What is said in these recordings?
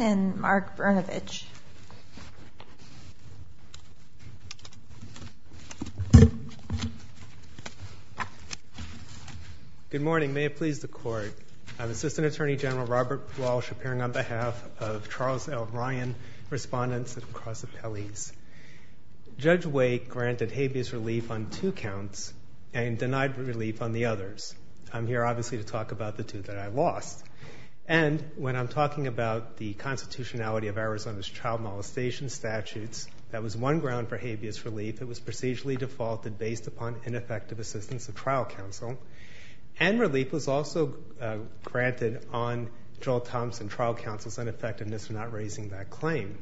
and Mark Brnovich Good morning. May it please the court. I'm Assistant Attorney General Robert Walsh appearing on behalf of Charles L. Ryan respondents and cross appellees. Judge Wake granted habeas relief on two counts and denied relief on the others. I'm here obviously to talk about the two that I lost. And when I'm talking about the constitutionality of Arizona's child molestation statutes, that was one ground for habeas relief. It was procedurally defaulted based upon ineffective assistance of trial counsel. And relief was also granted on Joel Thompson trial counsel's ineffectiveness for not raising that claim.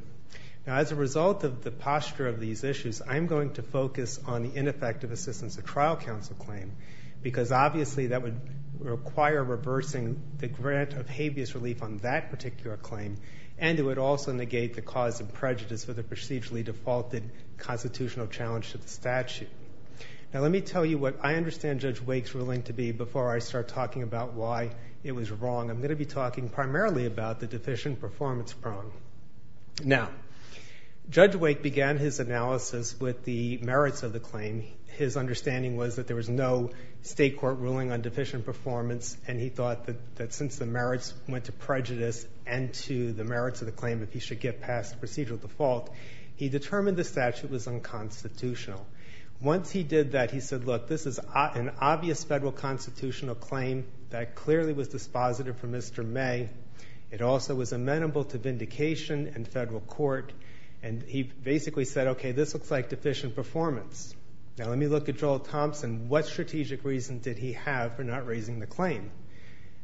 Now as a result of the posture of these issues, I'm going to focus on the ineffective assistance of trial counsel claim. Because obviously that would require reversing the grant of habeas relief on that particular claim. And it would also negate the cause of prejudice for the procedurally defaulted constitutional challenge to the statute. Now let me tell you what I mean when I start talking about why it was wrong. I'm going to be talking primarily about the deficient performance problem. Now Judge Wake began his analysis with the merits of the claim. His understanding was that there was no state court ruling on deficient performance and he thought that since the merits went to prejudice and to the merits of the claim that he should get past the procedural default, he determined the statute was unconstitutional. Once he did that, he said, look, this is an obvious federal constitutional claim that clearly was dispositive for Mr. May. It also was amenable to vindication in federal court. And he basically said, okay, this looks like deficient performance. Now let me look at Joel Thompson. What strategic reason did he have for not raising the claim?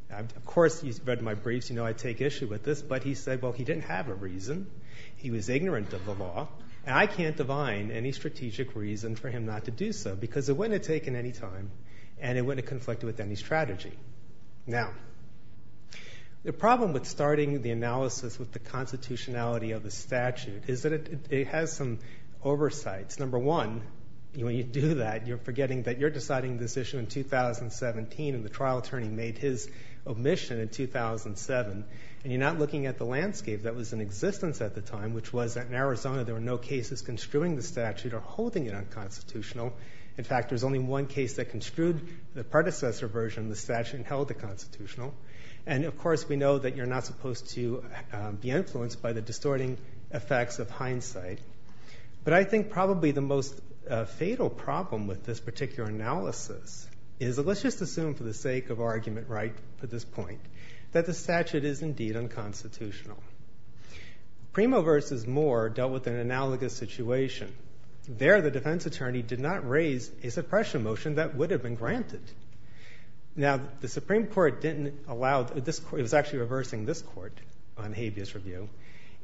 Of course, you've read my briefs, you know I take issue with this. But he said, well, he didn't have a reason. He was ignorant of the law. And I can't divine any strategic reason for him not to do so because it wouldn't have taken any time and it wouldn't have conflicted with any strategy. Now, the problem with starting the analysis with the constitutionality of the statute is that it has some oversights. Number one, when you do that, you're forgetting that you're deciding this issue in 2017 and the trial attorney made his omission in 2007 and you're not looking at the landscape that was in existence at the time, which was that in Arizona, there were no cases construing the statute or holding it unconstitutional. In fact, there's only one case that construed the predecessor version of the statute and held the constitutional. And of course, we know that you're not supposed to be influenced by the distorting effects of hindsight. But I think probably the most fatal problem with this particular analysis is, let's just assume for the sake of argument right at this point, that the statute is indeed unconstitutional. Primo versus Moore dealt with an analogous situation. There, the defense attorney did not raise a suppression motion that would have been granted. Now, the Supreme Court didn't allow... It was actually reversing this court on habeas review.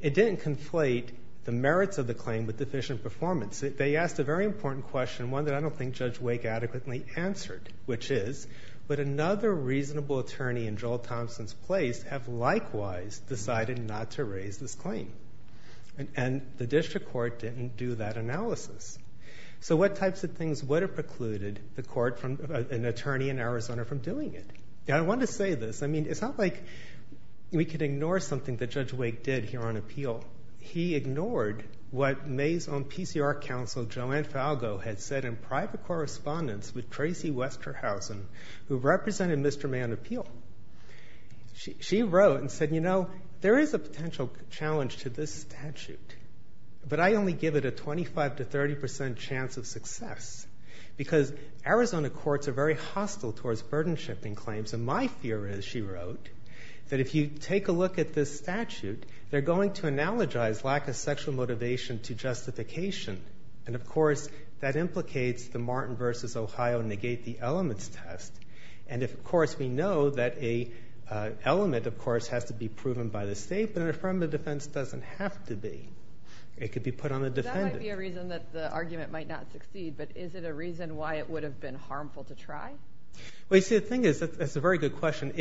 It didn't conflate the merits of the claim with deficient performance. They asked a very important question, one that I don't think Judge Wake adequately answered, which is, would another reasonable attorney in Joel Thompson's place have likewise decided not to raise this claim? And the district court didn't do that analysis. So what types of things would have precluded an attorney in Arizona from doing it? I want to say this. I mean, it's not like we could ignore something that Judge Wake did here on appeal. He ignored what May's own PCR counsel, Joanne Falgo, had said in private correspondence with Tracy Westerhausen, who represented Mr. May on appeal. She wrote and said, you know, there is a potential challenge to this statute, but I only give it a 25% to 30% chance of success because Arizona courts are very hostile towards burden-shifting claims. And my fear is, she wrote, that if you take a look at this statute, they're going to analogize lack of sexual motivation to justification. And of course, that implicates the Martin v. Ohio negate the elements test. And if, of course, we know that a element, of course, has to be proven by the state, but an affirmative defense doesn't have to be. It could be put on the defendant. That might be a reason that the argument might not succeed, but is it a reason why it would have been harmful to try? Well, you see, the thing is, it's a very good question.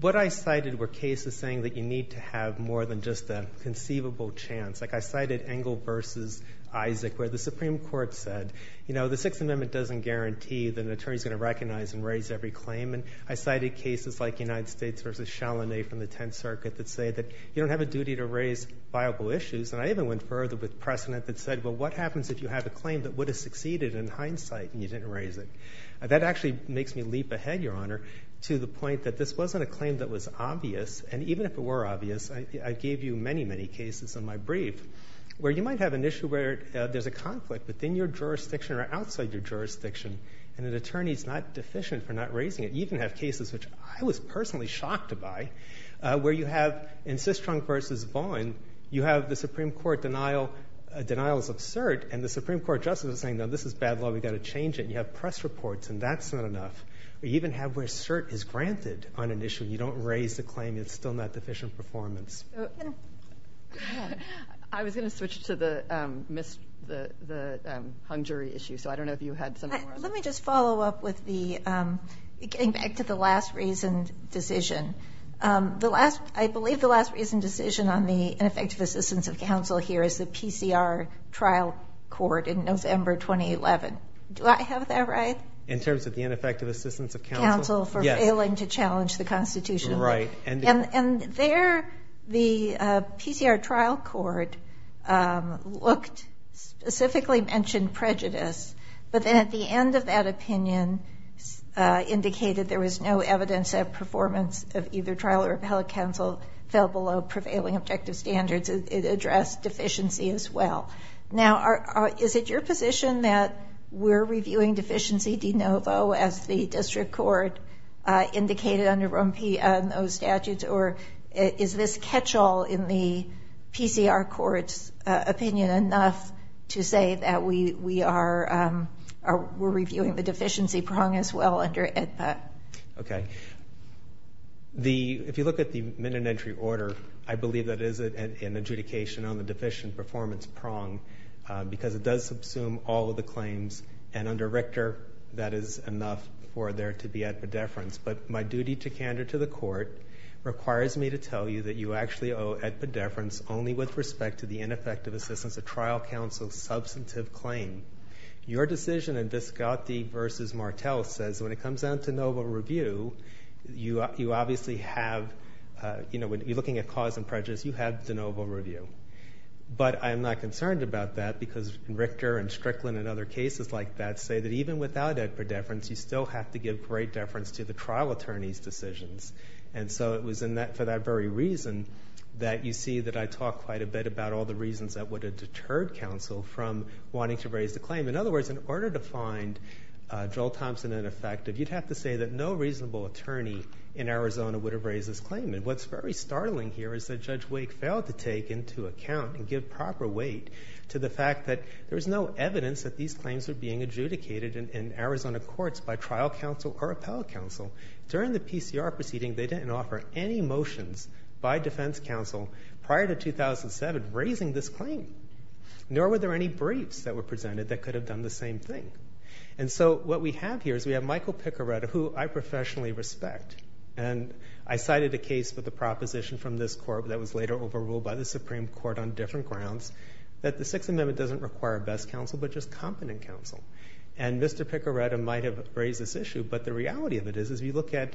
What I cited were cases saying that you need to have more than just a conceivable chance. Like I cited Engel v. Isaac, where the Supreme Court said, you know, the Sixth Amendment doesn't guarantee that an attorney is going to recognize and raise every claim. And I cited cases like United States v. Chalamet from the Tenth Circuit that say that you don't have a duty to raise viable issues. And I even went further with precedent that said, well, what happens if you have a claim that would have succeeded in hindsight and you didn't raise it? That actually makes me leap ahead, Your Honor, to the point that this wasn't a claim that was obvious. And even if it were obvious, I gave you many, many cases in my brief where you might have an issue where there's a conflict within your jurisdiction or outside your jurisdiction, and an attorney's not deficient for not raising it. You even have cases which I was personally shocked by, where you have in Systrunk v. Vaughan, you have the Supreme Court denial, denial is absurd, and the Supreme Court justices are saying, no, this is bad law. We've got to pass reports, and that's not enough. We even have where cert is granted on an issue. You don't raise the claim. It's still not deficient performance. I was going to switch to the hung jury issue, so I don't know if you had something more on that. Let me just follow up with the, getting back to the last reasoned decision. I believe the last reasoned decision on the ineffective assistance of counsel here is the PCR trial court in terms of the ineffective assistance of counsel for failing to challenge the Constitution. And there, the PCR trial court looked, specifically mentioned prejudice, but then at the end of that opinion indicated there was no evidence that performance of either trial or appellate counsel fell below prevailing objective standards. It addressed deficiency as well. Now, is it your position that we're reviewing deficiency de novo as the district court indicated under ROMP and those statutes, or is this catch-all in the PCR court's opinion enough to say that we are, we're reviewing the deficiency prong as well under AEDPA? Okay. The, if you look at the minute entry order, I believe that is an adjudication on the deficiency prong because it does subsume all of the claims and under Richter, that is enough for there to be at pedeference. But my duty to candor to the court requires me to tell you that you actually owe at pedeference only with respect to the ineffective assistance of trial counsel's substantive claim. Your decision in Visconti versus Martel says when it comes down to de novo review, you obviously have, you know, when you're looking at cause and prejudice, you have de novo review. But I'm not concerned about that because Richter and Strickland and other cases like that say that even without AEDPA deference, you still have to give great deference to the trial attorney's decisions. And so it was in that, for that very reason that you see that I talk quite a bit about all the reasons that would have deterred counsel from wanting to raise the claim. In other words, in order to find Joel Thompson ineffective, you'd have to say that no reasonable attorney in Arizona would have raised this claim. And what's very startling here is that Judge Wake failed to take into account and give proper weight to the fact that there was no evidence that these claims were being adjudicated in Arizona courts by trial counsel or appellate counsel. During the PCR proceeding, they didn't offer any motions by defense counsel prior to 2007 raising this claim, nor were there any briefs that were presented that could have done the same thing. And so what we have here is we have Michael Picoretta, who I professionally respect. And I cited a case for the proposition from this court that was later overruled by the Supreme Court on different grounds, that the Sixth Amendment doesn't require best counsel, but just competent counsel. And Mr. Picoretta might have raised this issue, but the reality of it is, as we look at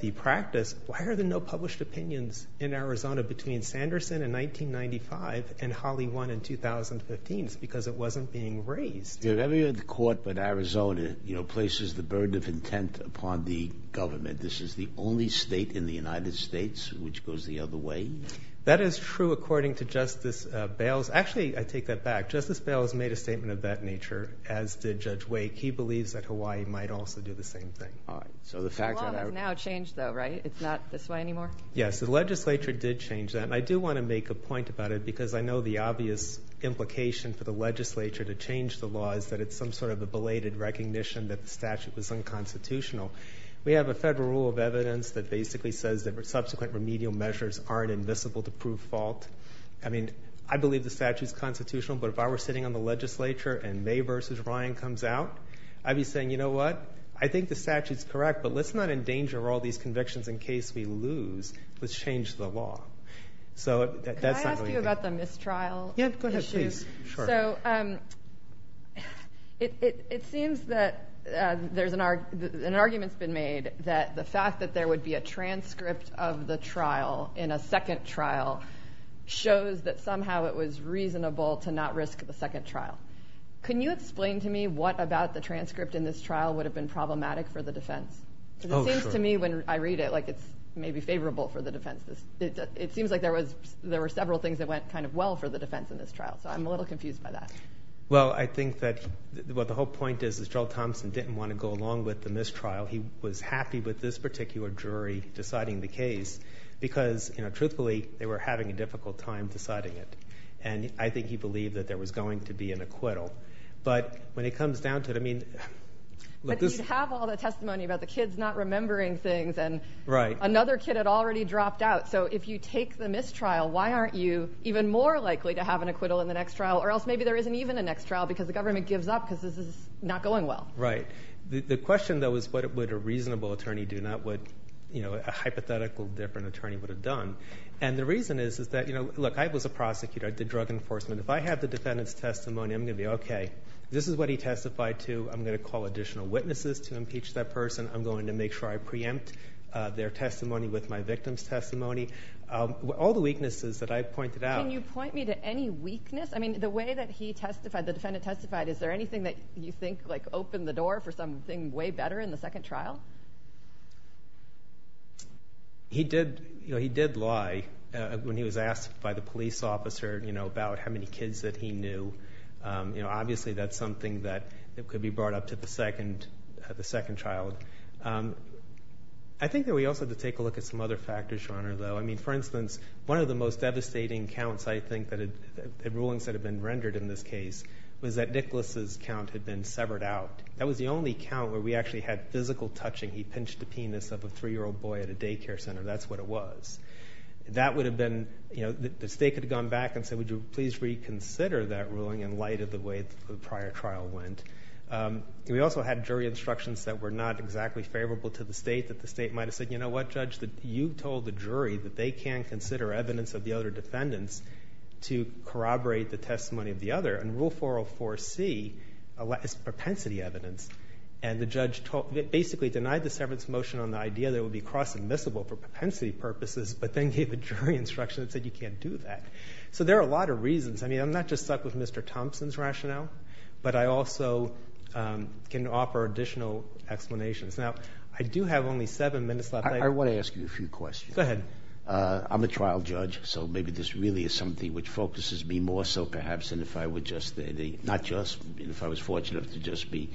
the practice, why are there no published opinions in Arizona between Sanderson in 1995 and Holly Won in 2015? It's because it wasn't being raised. If every other court but Arizona, you know, places the burden of intent upon the government, this is the only state in the United States which goes the other way? That is true according to Justice Bales. Actually, I take that back. Justice Bales made a statement of that nature, as did Judge Wake. He believes that Hawaii might also do the same thing. All right. So the fact that- The law has now changed though, right? It's not this way anymore? Yes, the legislature did change that. And I do want to make a point about it because I know the it's some sort of a belated recognition that the statute was unconstitutional. We have a federal rule of evidence that basically says that subsequent remedial measures aren't invisible to prove fault. I mean, I believe the statute's constitutional, but if I were sitting on the legislature and May versus Ryan comes out, I'd be saying, you know what? I think the statute's correct, but let's not endanger all these convictions in case we lose. Let's change the law. So that's not really- Can I ask you about the mistrial issue? Yeah, go ahead, please. So it seems that there's an argument that's been made that the fact that there would be a transcript of the trial in a second trial shows that somehow it was reasonable to not risk the second trial. Can you explain to me what about the transcript in this trial would have been problematic for the defense? Because it seems to me when I read it, like it's maybe favorable for the defense. It seems like there were several things that went kind of well for the defense in this trial. So I'm a little confused by that. Well, I think that what the whole point is, is Joel Thompson didn't want to go along with the mistrial. He was happy with this particular jury deciding the case because truthfully, they were having a difficult time deciding it. And I think he believed that there was going to be an acquittal. But when it comes down to it, I mean- But you'd have all the testimony about the kids not remembering things and- Right. Another kid had already dropped out. So if you take the mistrial, why aren't you more likely to have an acquittal in the next trial? Or else maybe there isn't even a next trial because the government gives up because this is not going well. Right. The question though is what would a reasonable attorney do, not what a hypothetical different attorney would have done. And the reason is that, look, I was a prosecutor. I did drug enforcement. If I have the defendant's testimony, I'm going to be, okay, this is what he testified to. I'm going to call additional witnesses to impeach that person. I'm going to make sure I preempt their testimony with my victim's testimony. All the weaknesses that I've pointed out- Can you point me to any weakness? I mean, the way that he testified, the defendant testified, is there anything that you think opened the door for something way better in the second trial? He did lie when he was asked by the police officer about how many kids that he knew. Obviously that's something that could be brought up to the second child. I think that we also have to take a look at some other factors, Your Honor, though. I mean, for instance, one of the most devastating counts, I think, that the rulings that have been rendered in this case was that Nicholas's count had been severed out. That was the only count where we actually had physical touching. He pinched the penis of a three-year-old boy at a daycare center. That's what it was. The state could have gone back and said, would you please reconsider that ruling in light of the way the prior trial went? We also had jury instructions that were not exactly favorable to the state, that the state might have said, you know what, Judge, you told the jury that they can't consider evidence of the other defendants to corroborate the testimony of the other. And Rule 404C is propensity evidence, and the judge basically denied the severance motion on the idea that it would be cross-admissible for propensity purposes, but then gave a jury instruction that said you can't do that. So there are a lot of reasons. I mean, I'm not just stuck with Mr. Thompson's rationale, but I also can offer additional explanations. Now, I do have only seven minutes left. I want to ask you a few questions. Go ahead. I'm a trial judge, so maybe this really is something which focuses me more so perhaps than if I were just, not just, if I was fortunate enough to just be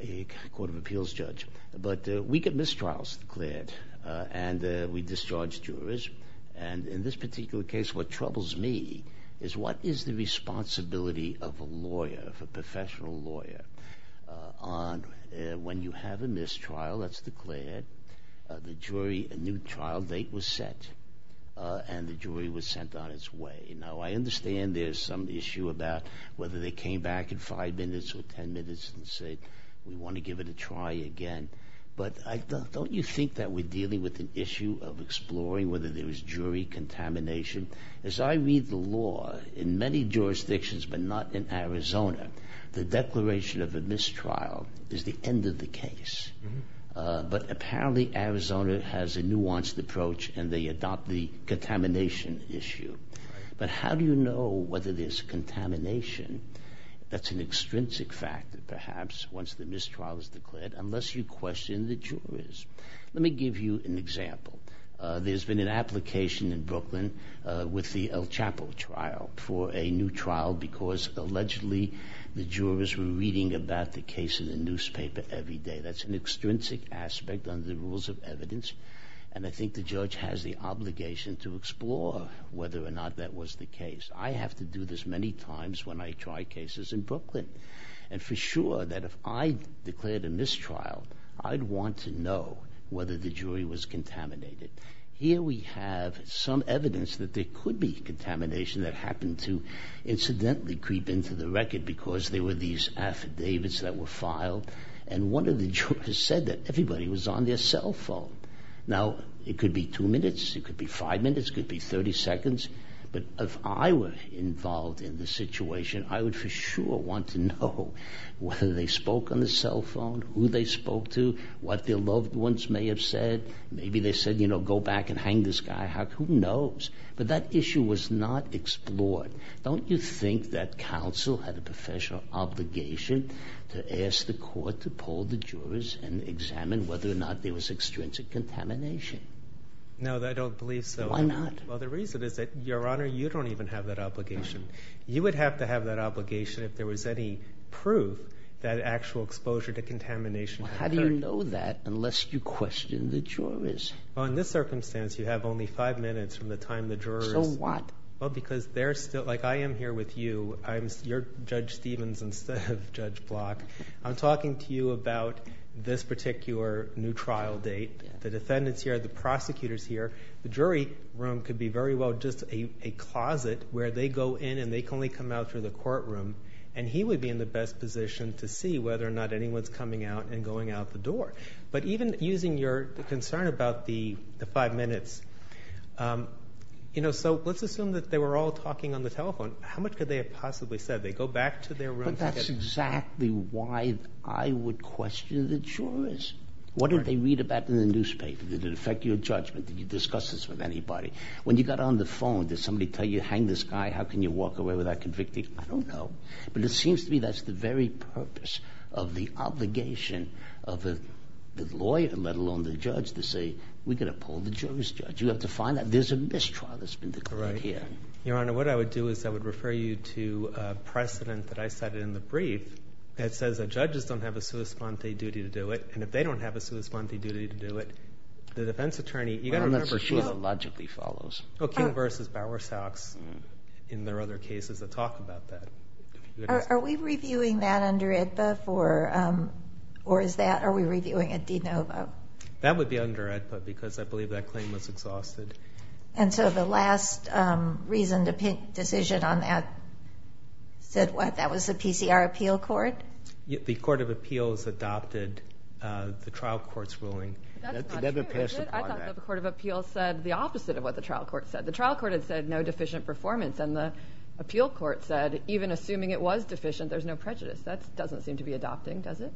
a court of appeals judge. But we get mistrials declared, and we discharge jurors. And in this particular case, what troubles me is what is the responsibility of a lawyer, of a professional lawyer, on when you have a mistrial that's declared, the jury, a new trial date was set, and the jury was sent on its way. Now, I understand there's some issue about whether they came back in five minutes or ten minutes and said, we want to give it a try again. But don't you think that we're dealing with an issue of exploring whether there was jury contamination? As I read the law, in many jurisdictions, but not in Arizona, the declaration of a mistrial is the end of the case. But apparently, Arizona has a nuanced approach, and they adopt the contamination issue. But how do you know whether there's contamination? That's an extrinsic factor, perhaps, once the mistrial is declared, unless you question the with the El Chapo trial for a new trial, because allegedly, the jurors were reading about the case in the newspaper every day. That's an extrinsic aspect under the rules of evidence. And I think the judge has the obligation to explore whether or not that was the case. I have to do this many times when I try cases in Brooklyn. And for sure, that if I declared a mistrial, I'd want to know whether the jury was contaminated. Here we have some evidence that there could be contamination that happened to incidentally creep into the record because there were these affidavits that were filed. And one of the jurors said that everybody was on their cell phone. Now, it could be two minutes, it could be five minutes, it could be 30 seconds. But if I were involved in the situation, I would for sure want to know whether they spoke on the cell phone, who they spoke to, what their loved ones may have said. Maybe they said, you know, go back and hang the skyhock. Who knows? But that issue was not explored. Don't you think that counsel had a professional obligation to ask the court to poll the jurors and examine whether or not there was extrinsic contamination? No, I don't believe so. Why not? Well, the reason is that, Your Honor, you don't even have that obligation. You would have to have that obligation if there was any that actual exposure to contamination occurred. How do you know that unless you question the jurors? Well, in this circumstance, you have only five minutes from the time the jurors... So what? Well, because they're still... Like, I am here with you. I'm... You're Judge Stevens instead of Judge Block. I'm talking to you about this particular new trial date. The defendants here, the prosecutors here, the jury room could be very well just a closet where they go in and they can only come out through the courtroom, and he would be in the best position to see whether or not anyone's coming out and going out the door. But even using your concern about the five minutes, you know, so let's assume that they were all talking on the telephone. How much could they have possibly said? They go back to their rooms... But that's exactly why I would question the jurors. What did they read about in the newspaper? Did it affect your judgment? Did you discuss this with anybody? When you got on the phone, did somebody tell you, hang the sky, how can you walk away without convicting? I don't know, but it seems to me that's the very purpose of the obligation of the lawyer, let alone the judge, to say, we're going to pull the jurors judge. You have to find that there's a mistrial that's been declared here. Your Honor, what I would do is I would refer you to a precedent that I cited in the brief that says that judges don't have a sua sponte duty to do it, and if they don't have a sua sponte duty to do it, the defense in their other cases will talk about that. Are we reviewing that under AEDPA, or is that, are we reviewing a de novo? That would be under AEDPA, because I believe that claim was exhausted. And so the last reason to make a decision on that said what? That was the PCR appeal court? The Court of Appeals adopted the trial court's ruling. That's not true. I thought the Court of Appeals said the opposite of what the trial court said. The trial court had said no deficient performance, and the appeal court said, even assuming it was deficient, there's no prejudice. That doesn't seem to be adopting, does it?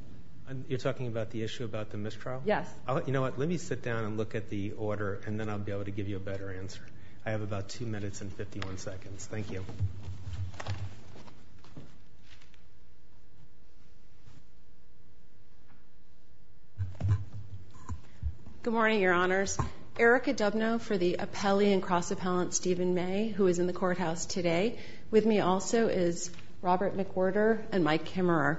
You're talking about the issue about the mistrial? Yes. You know what? Let me sit down and look at the order, and then I'll be able to give you a better answer. I have about two minutes and 51 seconds. Thank you. Good morning, Your Honors. Erica Dubno for the appellee and cross-appellant Stephen May, who is in the courthouse today. With me also is Robert McWhorter and Mike Kimmerer.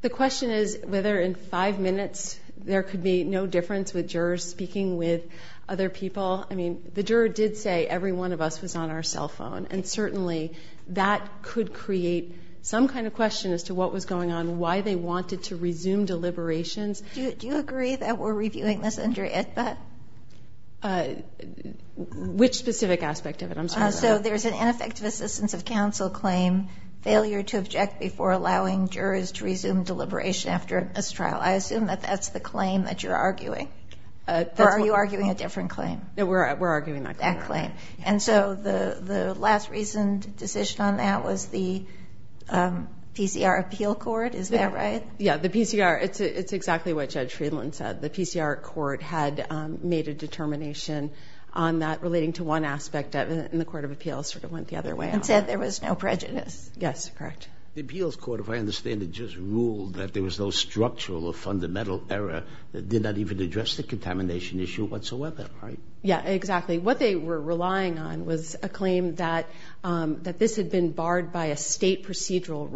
The question is whether in five minutes there could be no difference with jurors speaking with other people. I mean, the juror did say every one of us was on our cell phone, and certainly that could create some kind of question as to what was going on, why they wanted to resume deliberations. Do you agree that we're reviewing this under AEDPA? Which specific aspect of it? I'm sorry. So there's an ineffective assistance of counsel claim, failure to object before allowing jurors to resume deliberation after a mistrial. I assume that that's the claim that you're arguing, or are you arguing a different claim? No, we're arguing that claim. That claim. And so the last recent decision on that was the PCR appeal court. Is that right? Yeah, the PCR. It's exactly what Judge Friedland said. The PCR court had made a determination on that relating to one aspect of it, and the court of appeals sort of went the other way. And said there was no prejudice. Yes, correct. The appeals court, if I understand it, just ruled that there was no structural or fundamental error that did not even address the contamination issue whatsoever, right? Yeah, exactly. What they were relying on was a claim that this had been barred by a state procedural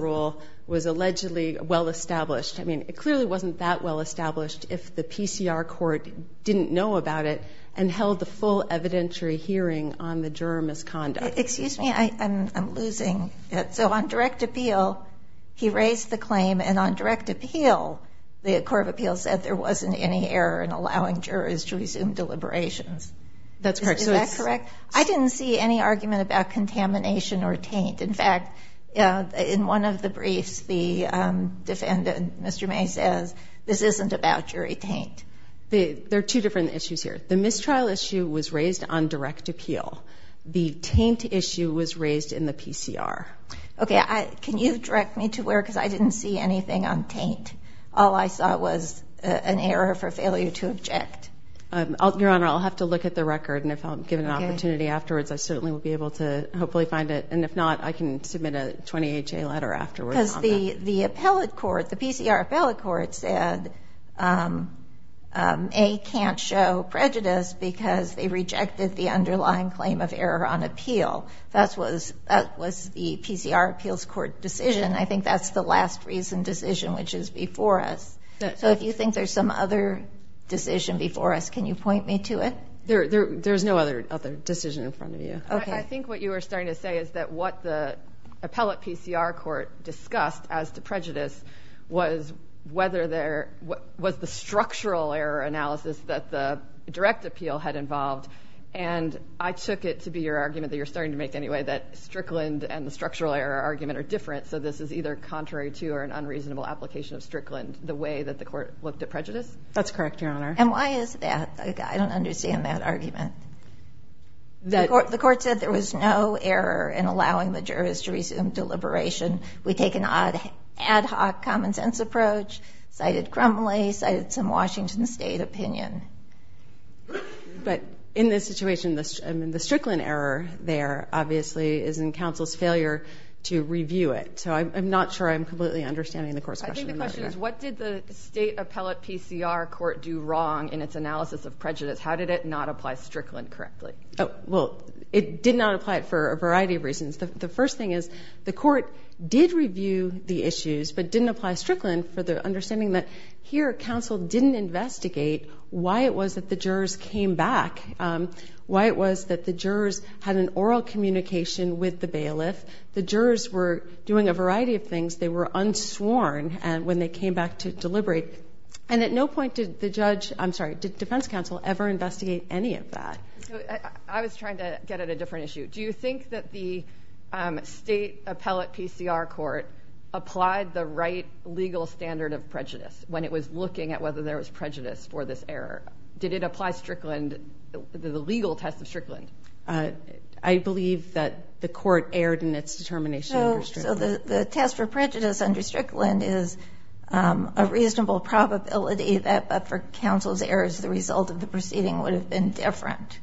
rule, was allegedly well-established. I mean, it clearly wasn't that well-established if the PCR court didn't know about it and held the full evidentiary hearing on the juror misconduct. Excuse me, I'm losing it. So on direct appeal, he raised the claim, and on direct appeal, the court of appeals said there wasn't any error in allowing jurors to resume deliberations. That's correct. Is that correct? I didn't see any argument about contamination or taint. In fact, in one of the briefs, the defendant, Mr. May, says this isn't about jury taint. There are two different issues here. The mistrial issue was raised on direct appeal. The taint issue was raised in the PCR. Okay, can you direct me to where? Because I didn't see anything on taint. All I saw was an error for failure to object. Your Honor, I'll have to look at the record, and if I'm given an opportunity afterwards, I certainly will be able to hopefully find it, and if not, I can submit a 20HA letter afterwards. Because the appellate court, the PCR appellate court said, A, can't show prejudice because they rejected the underlying claim of error on appeal. That was the PCR appeals court decision. I think that's the last reason decision, which is before us. So if you think there's some other decision before us, can you point me to it? There's no other decision in front of you. I think what you were starting to say is that what the appellate PCR court discussed as to prejudice was whether there was the structural error analysis that the direct appeal had involved, and I took it to be your argument that you're starting to make any way that Strickland and the structural error argument are different, so this is either contrary to or an unreasonable application of Strickland, the way that the court looked at prejudice? That's correct, Your Honor. And why is that? I don't understand that argument. The court said there was no error in allowing the jurors to resume deliberation. We take an odd ad hoc common sense approach, cited Crumley, cited some Washington State opinion. But in this situation, the Strickland error there, obviously, is in counsel's failure to review it. So I'm not sure I'm completely understanding the court's question. What did the state appellate PCR court do wrong in its analysis of prejudice? How did it not apply Strickland correctly? Oh, well, it did not apply it for a variety of reasons. The first thing is, the court did review the issues, but didn't apply Strickland for the understanding that here, counsel didn't investigate why it was that the jurors came back, why it was that the jurors had an oral communication with the bailiff. The jurors were doing a variety of things. They were unsworn when they came back to deliberate. And at no point did the defense counsel ever investigate any of that. I was trying to get at a different issue. Do you think that the state appellate PCR court applied the right legal standard of prejudice when it was looking at whether there was prejudice for this error? Did it apply the legal test of Strickland? I believe that the court erred in its determination. So the test for prejudice under Strickland is a reasonable probability that for counsel's errors, the result of the proceeding would have been different.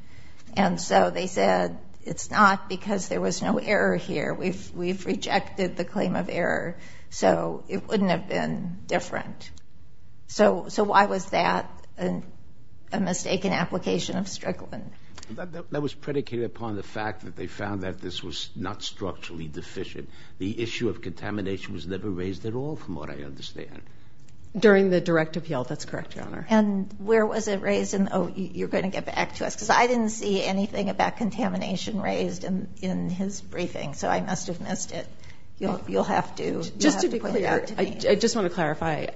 And so they said, it's not because there was no error here. We've rejected the claim of error. So it wouldn't have been different. So why was that a mistaken application of Strickland? That was predicated upon the fact that they found that this was not structurally deficient. The issue of contamination was never raised at all, from what I understand. During the direct appeal. That's correct, Your Honor. And where was it raised? And, oh, you're going to get back to us because I didn't see anything about contamination raised in his briefing. So I must have missed it. You'll have to put it out to me. Just to be clear, I just want to clarify.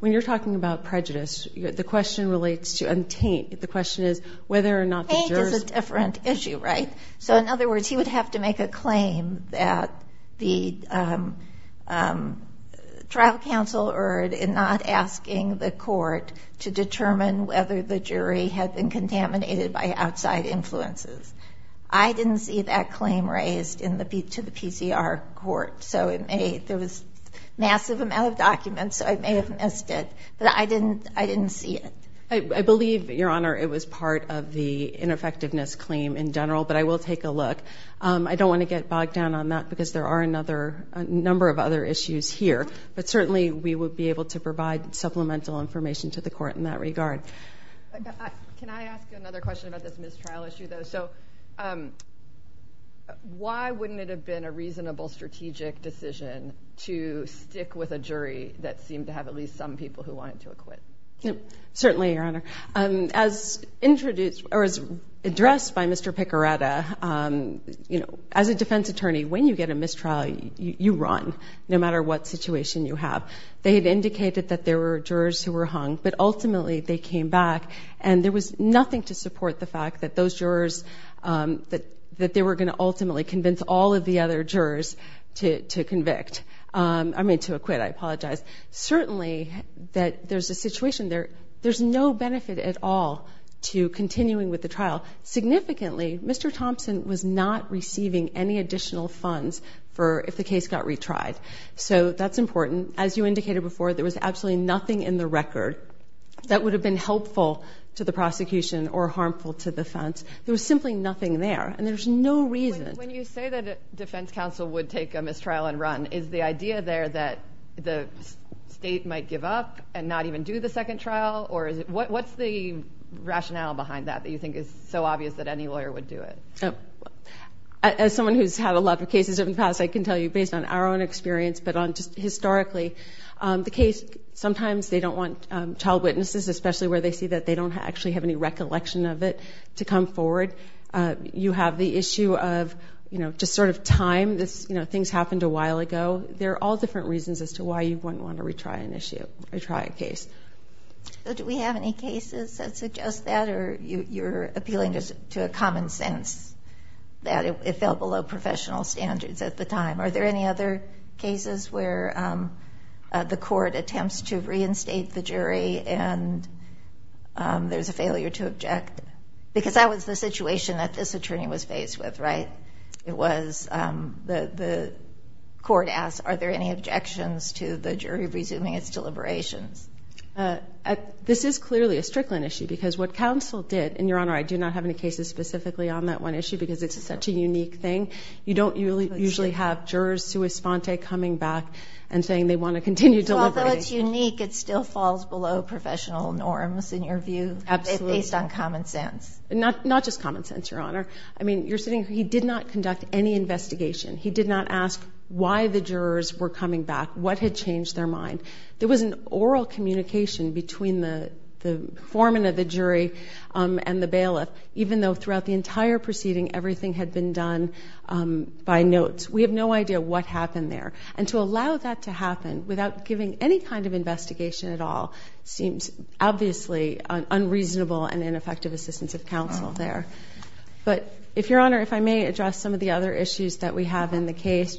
When you're talking about prejudice, the question relates to, and Taint, the question is whether or not the jurors- Taint is a different issue, right? So in other words, he would have to make a claim that the trial counsel erred in not asking the court to determine whether the jury had been contaminated by outside influences. I didn't see that claim raised to the PCR court. So it may, there was a massive amount of documents, so I may have missed it, but I didn't see it. I believe, Your Honor, it was part of the ineffectiveness claim in general, but I will take a look. I don't want to get bogged down on that because there are a number of other issues here, but certainly we would be able to provide supplemental information to the court in that regard. Can I ask you another question about this mistrial issue, though? So why wouldn't it have been a reasonable strategic decision to stick with a jury that seemed to have at least some people who wanted to acquit? Certainly, Your Honor. As introduced, or as addressed by Mr. Picoretta, as a defense attorney, when you get a mistrial, you run, no matter what situation you have. They had indicated that there were jurors who were hung, but ultimately they came back, and there was nothing to support the fact that those jurors that they were going to ultimately convince all of the other jurors to convict, I mean to acquit, I apologize. Certainly that there's a situation there, there's no benefit at all to continuing with the trial. Significantly, Mr. Thompson was not receiving any additional funds for if the case got retried. So that's important. As you indicated before, there was absolutely nothing in the record that would have been helpful to the prosecution or harmful to the defense. There was simply nothing there, and there's no reason. When you say that a defense counsel would take a mistrial and run, is the idea there that the state might give up and not even do the second trial? Or what's the rationale behind that that you think is so obvious that any lawyer would do it? As someone who's had a lot of cases in the past, I can tell you based on our own experience, but on just historically, the case, sometimes they don't want child witnesses, especially where they see that they don't actually have any recollection of it, to come forward. You have the issue of just sort of time. Things happened a while ago. There are all different reasons as to why you wouldn't want to retry an issue, retry a case. Do we have any cases that suggest that, or you're appealing just to a common sense that it fell below professional standards at the time? Are there any other cases where the court attempts to reinstate the jury and there's a failure to object? Because that was the situation that this attorney was faced with, right? It was, the court asked, are there any objections to the jury resuming its deliberations? This is clearly a Strickland issue, because what counsel did, and Your Honor, I do not have any cases specifically on that one issue because it's such a unique thing. You don't usually have jurors sui sponte coming back and saying they want to continue deliberating. Although it's unique, it still falls below professional norms, in your view? Absolutely. Based on common sense. Not just common sense, Your Honor. I mean, you're sitting, he did not conduct any investigation. He did not ask why the jurors were coming back, what had changed their mind. There was an oral communication between the foreman of the jury and the bailiff, even though throughout the entire proceeding, everything had been done by notes. We have no idea what happened there. And to allow that to happen without giving any kind of investigation at all seems obviously unreasonable and ineffective assistance of counsel there. But if Your Honor, if I may address some of the other issues that we have in the case,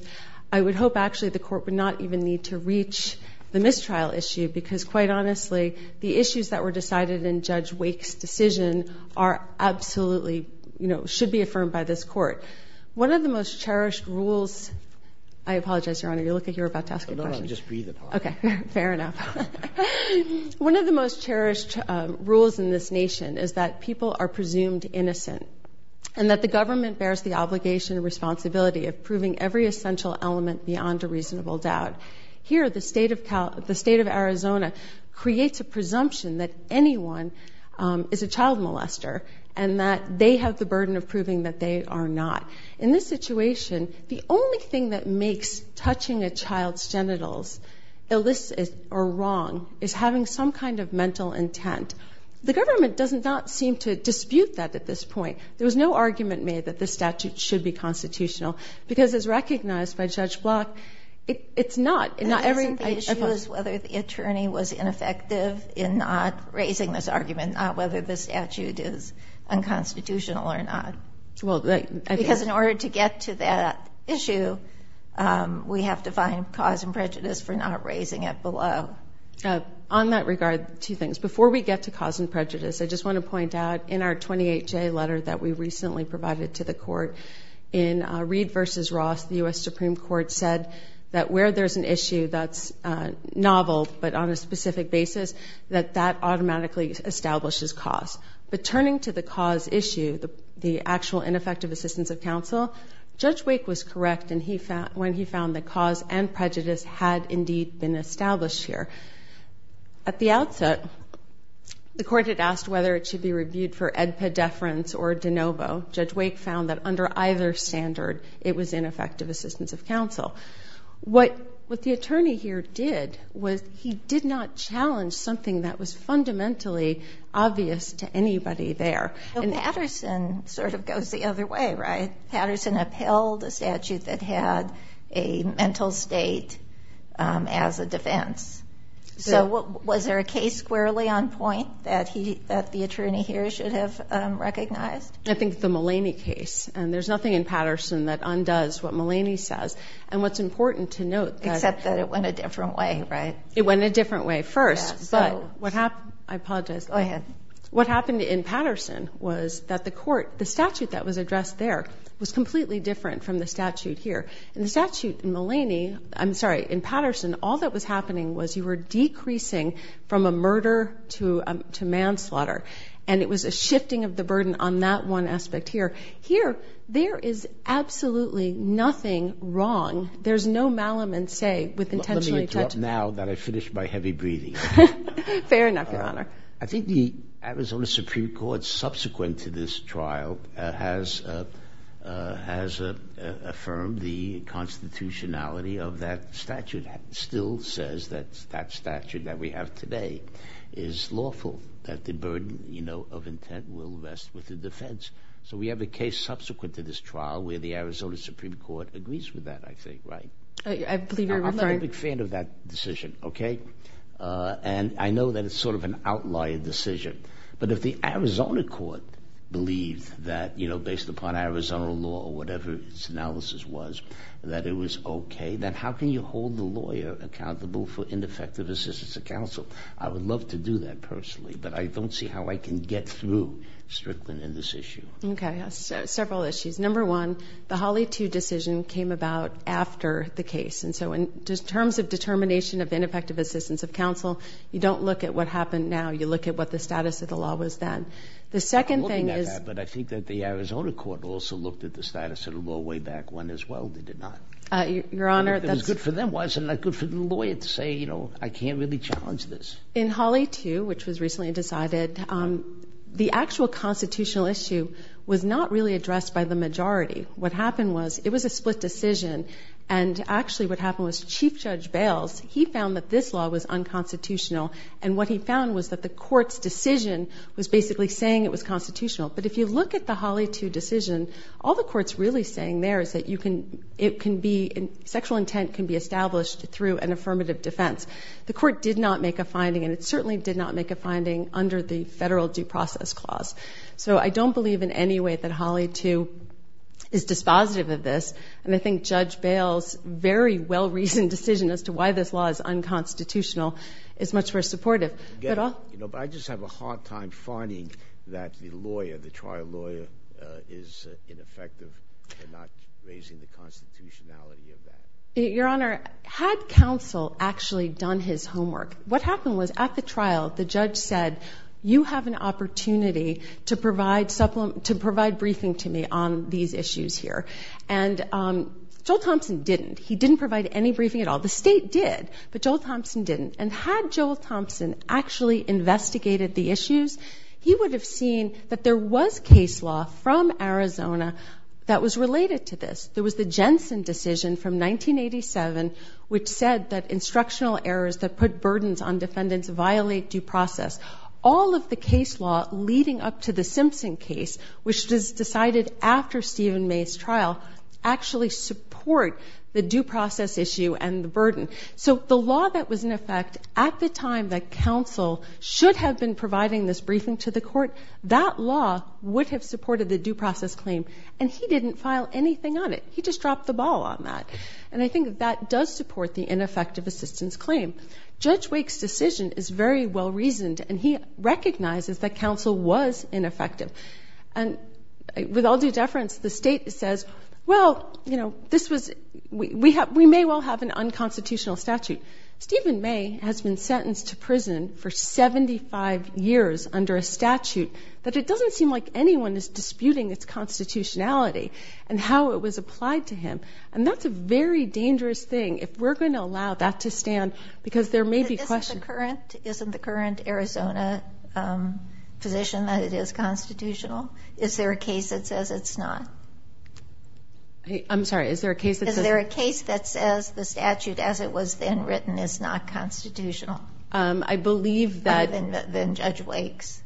I would hope actually the court would not even need to reach the mistrial issue, because quite honestly, the issues that were decided in Judge Wake's decision are absolutely, you know, should be affirmed by this court. One of the most cherished rules, I apologize, Your Honor, you look like you're about to ask a question. No, no, just breathe. Okay, fair enough. One of the most cherished rules in this nation is that people are presumed innocent, and that the government bears the obligation and responsibility of proving every essential element beyond a reasonable doubt. Here, the state of Arizona creates a presumption that anyone is a child molester, and that they have the burden of proving that they are not. In this situation, the only thing that makes touching a child's genitals illicit or wrong is having some kind of mental intent. The government does not seem to dispute that at this point. There was no argument made that this statute should be constitutional, because as recognized by Judge Block, it's not. The issue is whether the attorney was ineffective in not raising this argument, not whether the statute is unconstitutional or not. Because in order to get to that issue, we have to find cause and prejudice for not raising it below. On that regard, two things. Before we get to cause and prejudice, I just want to point out, in our 28-J letter that we recently provided to the court, in Reed v. Ross, the U.S. Supreme Court said that where there's an issue that's novel but on a specific basis, that that automatically establishes cause. But turning to the cause issue, the actual ineffective assistance of counsel, Judge Wake was correct when he found that cause and prejudice had indeed been established here. At the outset, the court had asked whether it should be reviewed for edpedeference or de novo. Judge Wake found that under either standard, it was ineffective assistance of counsel. What the attorney here did was he did not challenge something that was fundamentally obvious to anybody there. Patterson sort of goes the other way, right? Patterson upheld a statute that had a mental state as a defense. So was there a case squarely on point that the attorney here should have recognized? I think the Mulaney case. And there's nothing in Patterson that undoes what Mulaney says. And what's important to note... Except that it went a different way, right? It went a different way first. But what happened... I apologize. Go ahead. What happened in Patterson was that the court, the statute that was addressed there, was completely different from the statute here. And the statute in Mulaney... I'm sorry, in Patterson, all that was happening was you were decreasing from a murder to manslaughter. And it was a shifting of the burden on that one aspect here. Here, there is absolutely nothing wrong. There's no malum and say with intentionally... Let me interrupt now that I finished my heavy breathing. Fair enough, Your Honor. I think the Arizona Supreme Court, subsequent to this trial, has affirmed the constitutionality of that statute, still says that that statute that we have today is lawful, that the burden of intent will rest with the defense. So we have a case subsequent to this trial where the Arizona Supreme Court agrees with that, I think, right? I believe you're referring... I'm a big fan of that decision, okay? And I know that it's sort of an outlier decision. But if the Arizona court believed that, based upon Arizona law or whatever its analysis was, that it was okay, then how can you hold the lawyer accountable for ineffective assistance of counsel? I would love to do that personally, but I don't see how I can get through Strickland in this issue. Okay, several issues. Number one, the Hawley 2 decision came about after the case. And so, in terms of determination of ineffective assistance of counsel, you don't look at what happened now. You look at what the status of the law was then. The second thing is... I'm looking at that, but I think that the Arizona court also looked at the status of the Hawley 2 decision. And so, I think that's a good thing to look at, but I don't see how you can go way back when, as well, they did not. Your Honor, that's... It was good for them, wasn't it? Good for the lawyer to say, you know, I can't really challenge this. In Hawley 2, which was recently decided, the actual constitutional issue was not really addressed by the majority. What happened was, it was a split decision. And actually, what happened was Chief Judge Bales, he found that this law was unconstitutional. And what he is saying there is that it can be... sexual intent can be established through an affirmative defense. The court did not make a finding, and it certainly did not make a finding under the federal due process clause. So, I don't believe in any way that Hawley 2 is dispositive of this. And I think Judge Bales' very well-reasoned decision as to why this law is unconstitutional is much more supportive. Again, you know, I just have a hard time finding that the lawyer, the trial lawyer, is ineffective in not raising the constitutionality of that. Your Honor, had counsel actually done his homework, what happened was, at the trial, the judge said, you have an opportunity to provide supplement... to provide briefing to me on these issues here. And Joel Thompson didn't. He didn't provide any briefing at all. The state did, but Joel Thompson didn't. And had Joel Thompson actually investigated the issues, he would have seen that there was case law from Arizona that was related to this. There was the Jensen decision from 1987, which said that instructional errors that put burdens on defendants violate due process. All of the case law leading up to the Simpson case, which was decided after Stephen May's trial, actually support the due process issue and the burden. So, the law that was in effect at the time that counsel should have been providing this briefing to the court, that law would have supported the due process claim, and he didn't file anything on it. He just dropped the ball on that. And I think that that does support the ineffective assistance claim. Judge Wake's decision is very well-reasoned, and he recognizes that counsel was ineffective. And with all due deference, the state says, well, you know, this was... we may well have an unconstitutional statute. Stephen May has been sentenced to prison for 75 years under a statute that it doesn't seem like anyone is disputing its constitutionality and how it was applied to him. And that's a very dangerous thing. If we're going to allow that to stand, because there may be questions... Isn't the current Arizona position that it is constitutional? Is there a case that says it's not? I'm sorry, is there a case that says... As it was then written, it's not constitutional? I believe that... Other than Judge Wake's?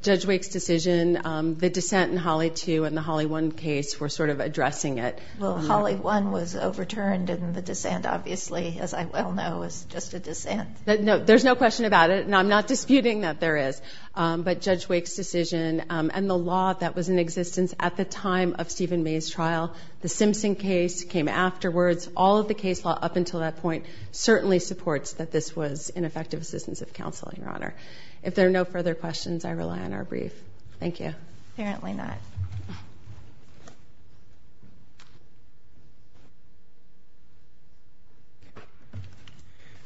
Judge Wake's decision, the dissent in Holly 2 and the Holly 1 case were sort of addressing it. Well, Holly 1 was overturned, and the dissent, obviously, as I well know, is just a dissent. There's no question about it, and I'm not disputing that there is. But Judge Wake's decision and the law that was in existence at the time of Stephen May's trial, the Simpson case came afterwards. All of the case law up until that point certainly supports that this was ineffective assistance of counseling, Your Honor. If there are no further questions, I rely on our brief. Thank you. Apparently not.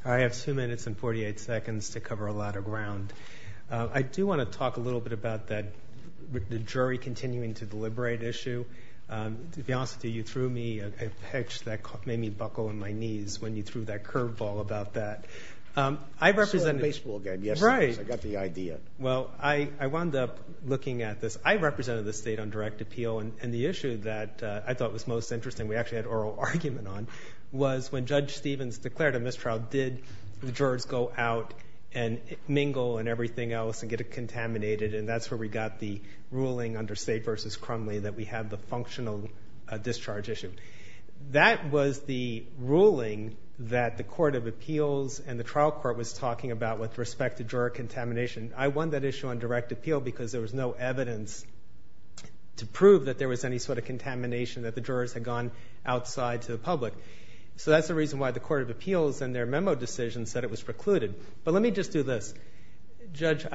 I have 2 minutes and 48 seconds to cover a lot of ground. I do wanna talk a little bit with the jury continuing to deliberate issue. To be honest with you, you threw me a pitch that made me buckle on my knees when you threw that curveball about that. I saw that baseball game yesterday, so I got the idea. Well, I wound up looking at this. I represented the state on direct appeal, and the issue that I thought was most interesting, we actually had oral argument on, was when Judge Stevens declared a mistrial, did the jurors go out and mingle and everything else and get it where we got the ruling under State v. Crumley that we have the functional discharge issue. That was the ruling that the Court of Appeals and the trial court was talking about with respect to juror contamination. I won that issue on direct appeal because there was no evidence to prove that there was any sort of contamination, that the jurors had gone outside to the public. So that's the reason why the Court of Appeals and their memo decision said it was precluded. But let me just do this. Judge,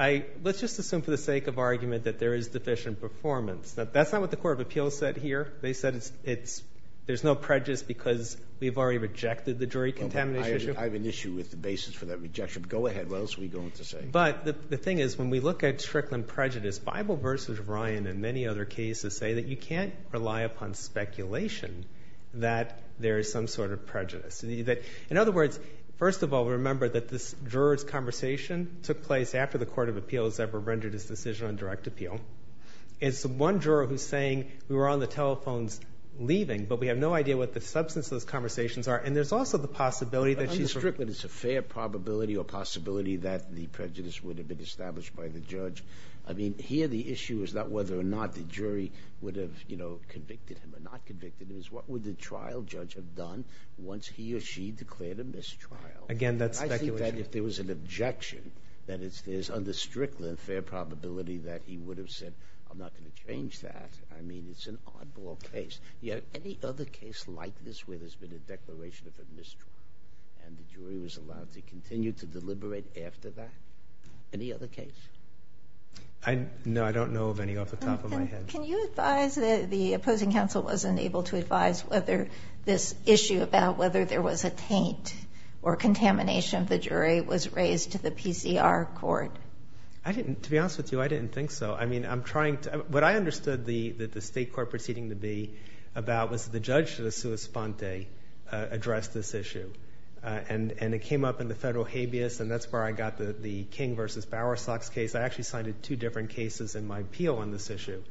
let's just assume for the sake of argument that there is deficient performance. That's not what the Court of Appeals said here. They said there's no prejudice because we've already rejected the jury contamination. I have an issue with the basis for that rejection. Go ahead. What else are we going to say? But the thing is, when we look at Strickland prejudice, Bible v. Ryan and many other cases say that you can't rely upon speculation that there is some sort of prejudice. In other words, first of all, remember that this juror's conversation took place after the Court of Appeals ever rendered its decision on direct appeal. It's one juror who's saying, we were on the telephones leaving, but we have no idea what the substance of those conversations are. And there's also the possibility that she's- On the Strickland, it's a fair probability or possibility that the prejudice would have been established by the judge. I mean, here the issue is not whether or not the jury would have convicted him or not convicted him. It's what would the Again, that's speculation. I think that if there was an objection, that is, there's under Strickland fair probability that he would have said, I'm not going to change that. I mean, it's an oddball case. Any other case like this where there's been a declaration of a mistrial and the jury was allowed to continue to deliberate after that? Any other case? No, I don't know of any off the top of my head. Can you advise that the opposing counsel wasn't able to advise whether this issue about whether there was a taint or contamination of the jury was raised to the PCR court? I didn't, to be honest with you, I didn't think so. I mean, I'm trying to, what I understood the state court proceeding to be about was the judge to the sua sponte addressed this issue. And it came up in the federal habeas and that's where I got the King versus Bowersox case. I actually signed two different cases in my appeal on this issue.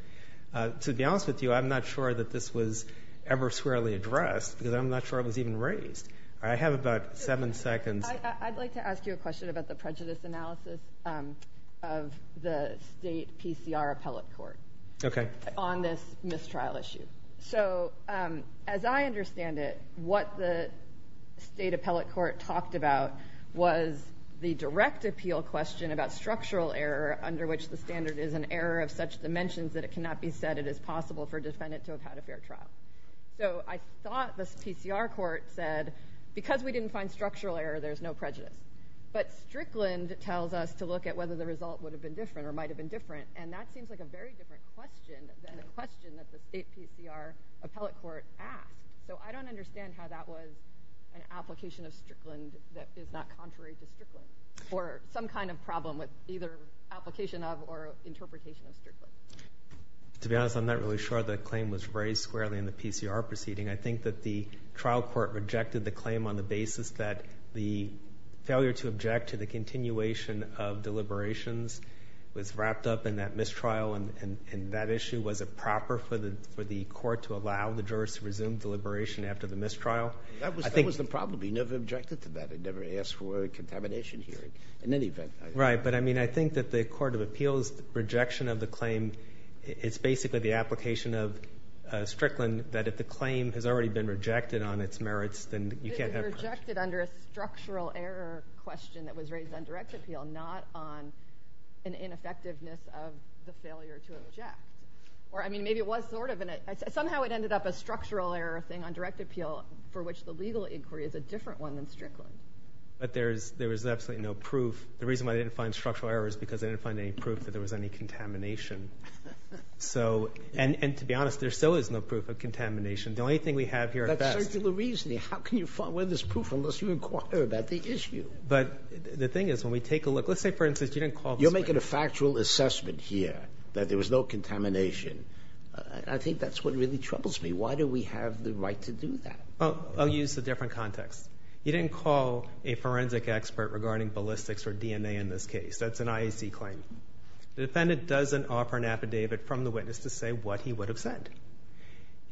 To be honest with you, I'm not sure that this was ever squarely addressed because I'm not sure it was even raised. I have about seven seconds. I'd like to ask you a question about the prejudice analysis of the state PCR appellate court on this mistrial issue. So as I understand it, what the state appellate court talked about was the direct appeal question about structural error under which the standard is an error of dimensions that it cannot be said it is possible for defendant to have had a fair trial. So I thought the PCR court said because we didn't find structural error, there's no prejudice. But Strickland tells us to look at whether the result would have been different or might have been different. And that seems like a very different question than the question that the state PCR appellate court asked. So I don't understand how that was an application of Strickland that is not contrary to Strickland or some kind of problem with either application of interpretation of Strickland. To be honest, I'm not really sure the claim was raised squarely in the PCR proceeding. I think that the trial court rejected the claim on the basis that the failure to object to the continuation of deliberations was wrapped up in that mistrial. And that issue was a proper for the court to allow the jurors to resume deliberation after the mistrial. That was the problem. We never objected to that. I never asked for a contamination hearing in any event. Right. But I mean, I think that the court of appeals rejection of the claim, it's basically the application of Strickland that if the claim has already been rejected on its merits, then you can't have rejected under a structural error question that was raised on direct appeal, not on an ineffectiveness of the failure to object. Or I mean, maybe it was sort of in it. Somehow it ended up a structural error thing on direct appeal for which the legal inquiry is a different one than Strickland. But there was absolutely no proof. The reason why they didn't find structural error is because they didn't find any proof that there was any contamination. So, and to be honest, there still is no proof of contamination. The only thing we have here. That's circular reasoning. How can you find where there's proof unless you inquire about the issue? But the thing is, when we take a look, let's say, for instance, you didn't call. You're making a factual assessment here that there was no contamination. I think that's what really to do that. Well, I'll use a different context. You didn't call a forensic expert regarding ballistics or DNA in this case. That's an IAC claim. The defendant doesn't offer an affidavit from the witness to say what he would have said.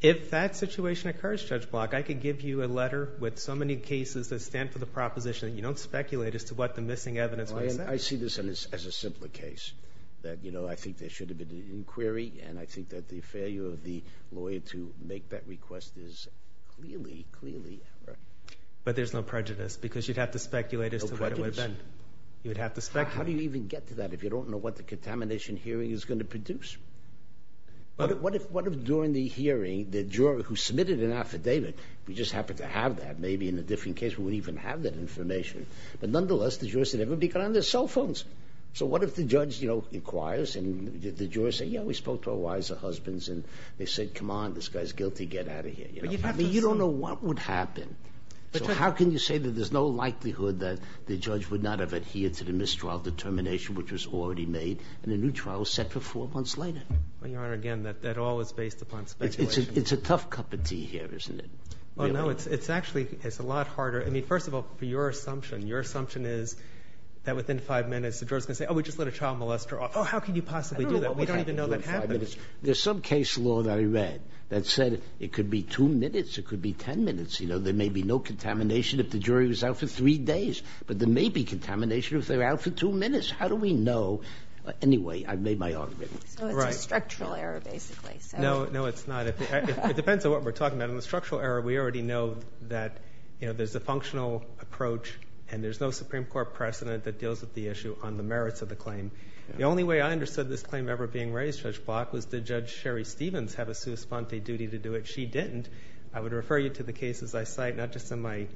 If that situation occurs, Judge Block, I could give you a letter with so many cases that stand for the proposition that you don't speculate as to what the missing evidence would have said. I see this as a simpler case that, you know, I think there should have been an inquiry. And I think that the failure of the lawyer to make that request is clearly, clearly. But there's no prejudice because you'd have to speculate as to what it would have been. You would have to speculate. How do you even get to that if you don't know what the contamination hearing is going to produce? What if during the hearing, the juror who submitted an affidavit, we just happen to have that, maybe in a different case, we wouldn't even have that information. But nonetheless, the jurors said everybody got on their cell phones. So what if the judge, you know, inquires and the jurors say, yeah, we spoke to our husbands and they said, come on, this guy's guilty. Get out of here. You don't know what would happen. How can you say that there's no likelihood that the judge would not have adhered to the mistrial determination, which was already made and the new trial set for four months later? Well, Your Honor, again, that all is based upon speculation. It's a tough cup of tea here, isn't it? Well, no, it's actually, it's a lot harder. I mean, first of all, for your assumption, your assumption is that within five minutes, the jurors can say, oh, we just let a child molester off. Oh, how can you possibly do that? We don't even know that happens. There's some case law that I read that said it could be two minutes, it could be 10 minutes. You know, there may be no contamination if the jury was out for three days, but there may be contamination if they're out for two minutes. How do we know? Anyway, I've made my argument. So it's a structural error, basically. No, no, it's not. It depends on what we're talking about. In the structural error, we already know that, you know, there's a functional approach and there's no Supreme Court precedent that this claim ever being raised, Judge Block, was did Judge Sherry Stevens have a sua sponte duty to do it? She didn't. I would refer you to the cases I cite, not just in my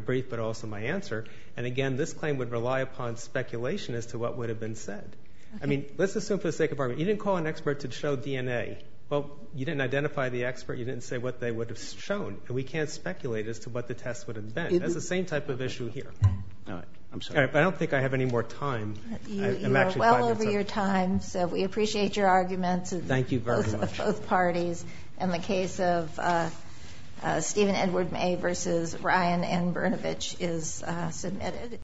brief, but also my answer. And again, this claim would rely upon speculation as to what would have been said. I mean, let's assume for the sake of argument, you didn't call an expert to show DNA. Well, you didn't identify the expert. You didn't say what they would have shown. And we can't speculate as to what the test would have been. That's the same type of issue here. All right. I'm sorry. I don't think I have any more time. You are well over your time. So we appreciate your arguments. Thank you very much. Both parties. And the case of Stephen Edward May versus Ryan Ann Brnovich is submitted.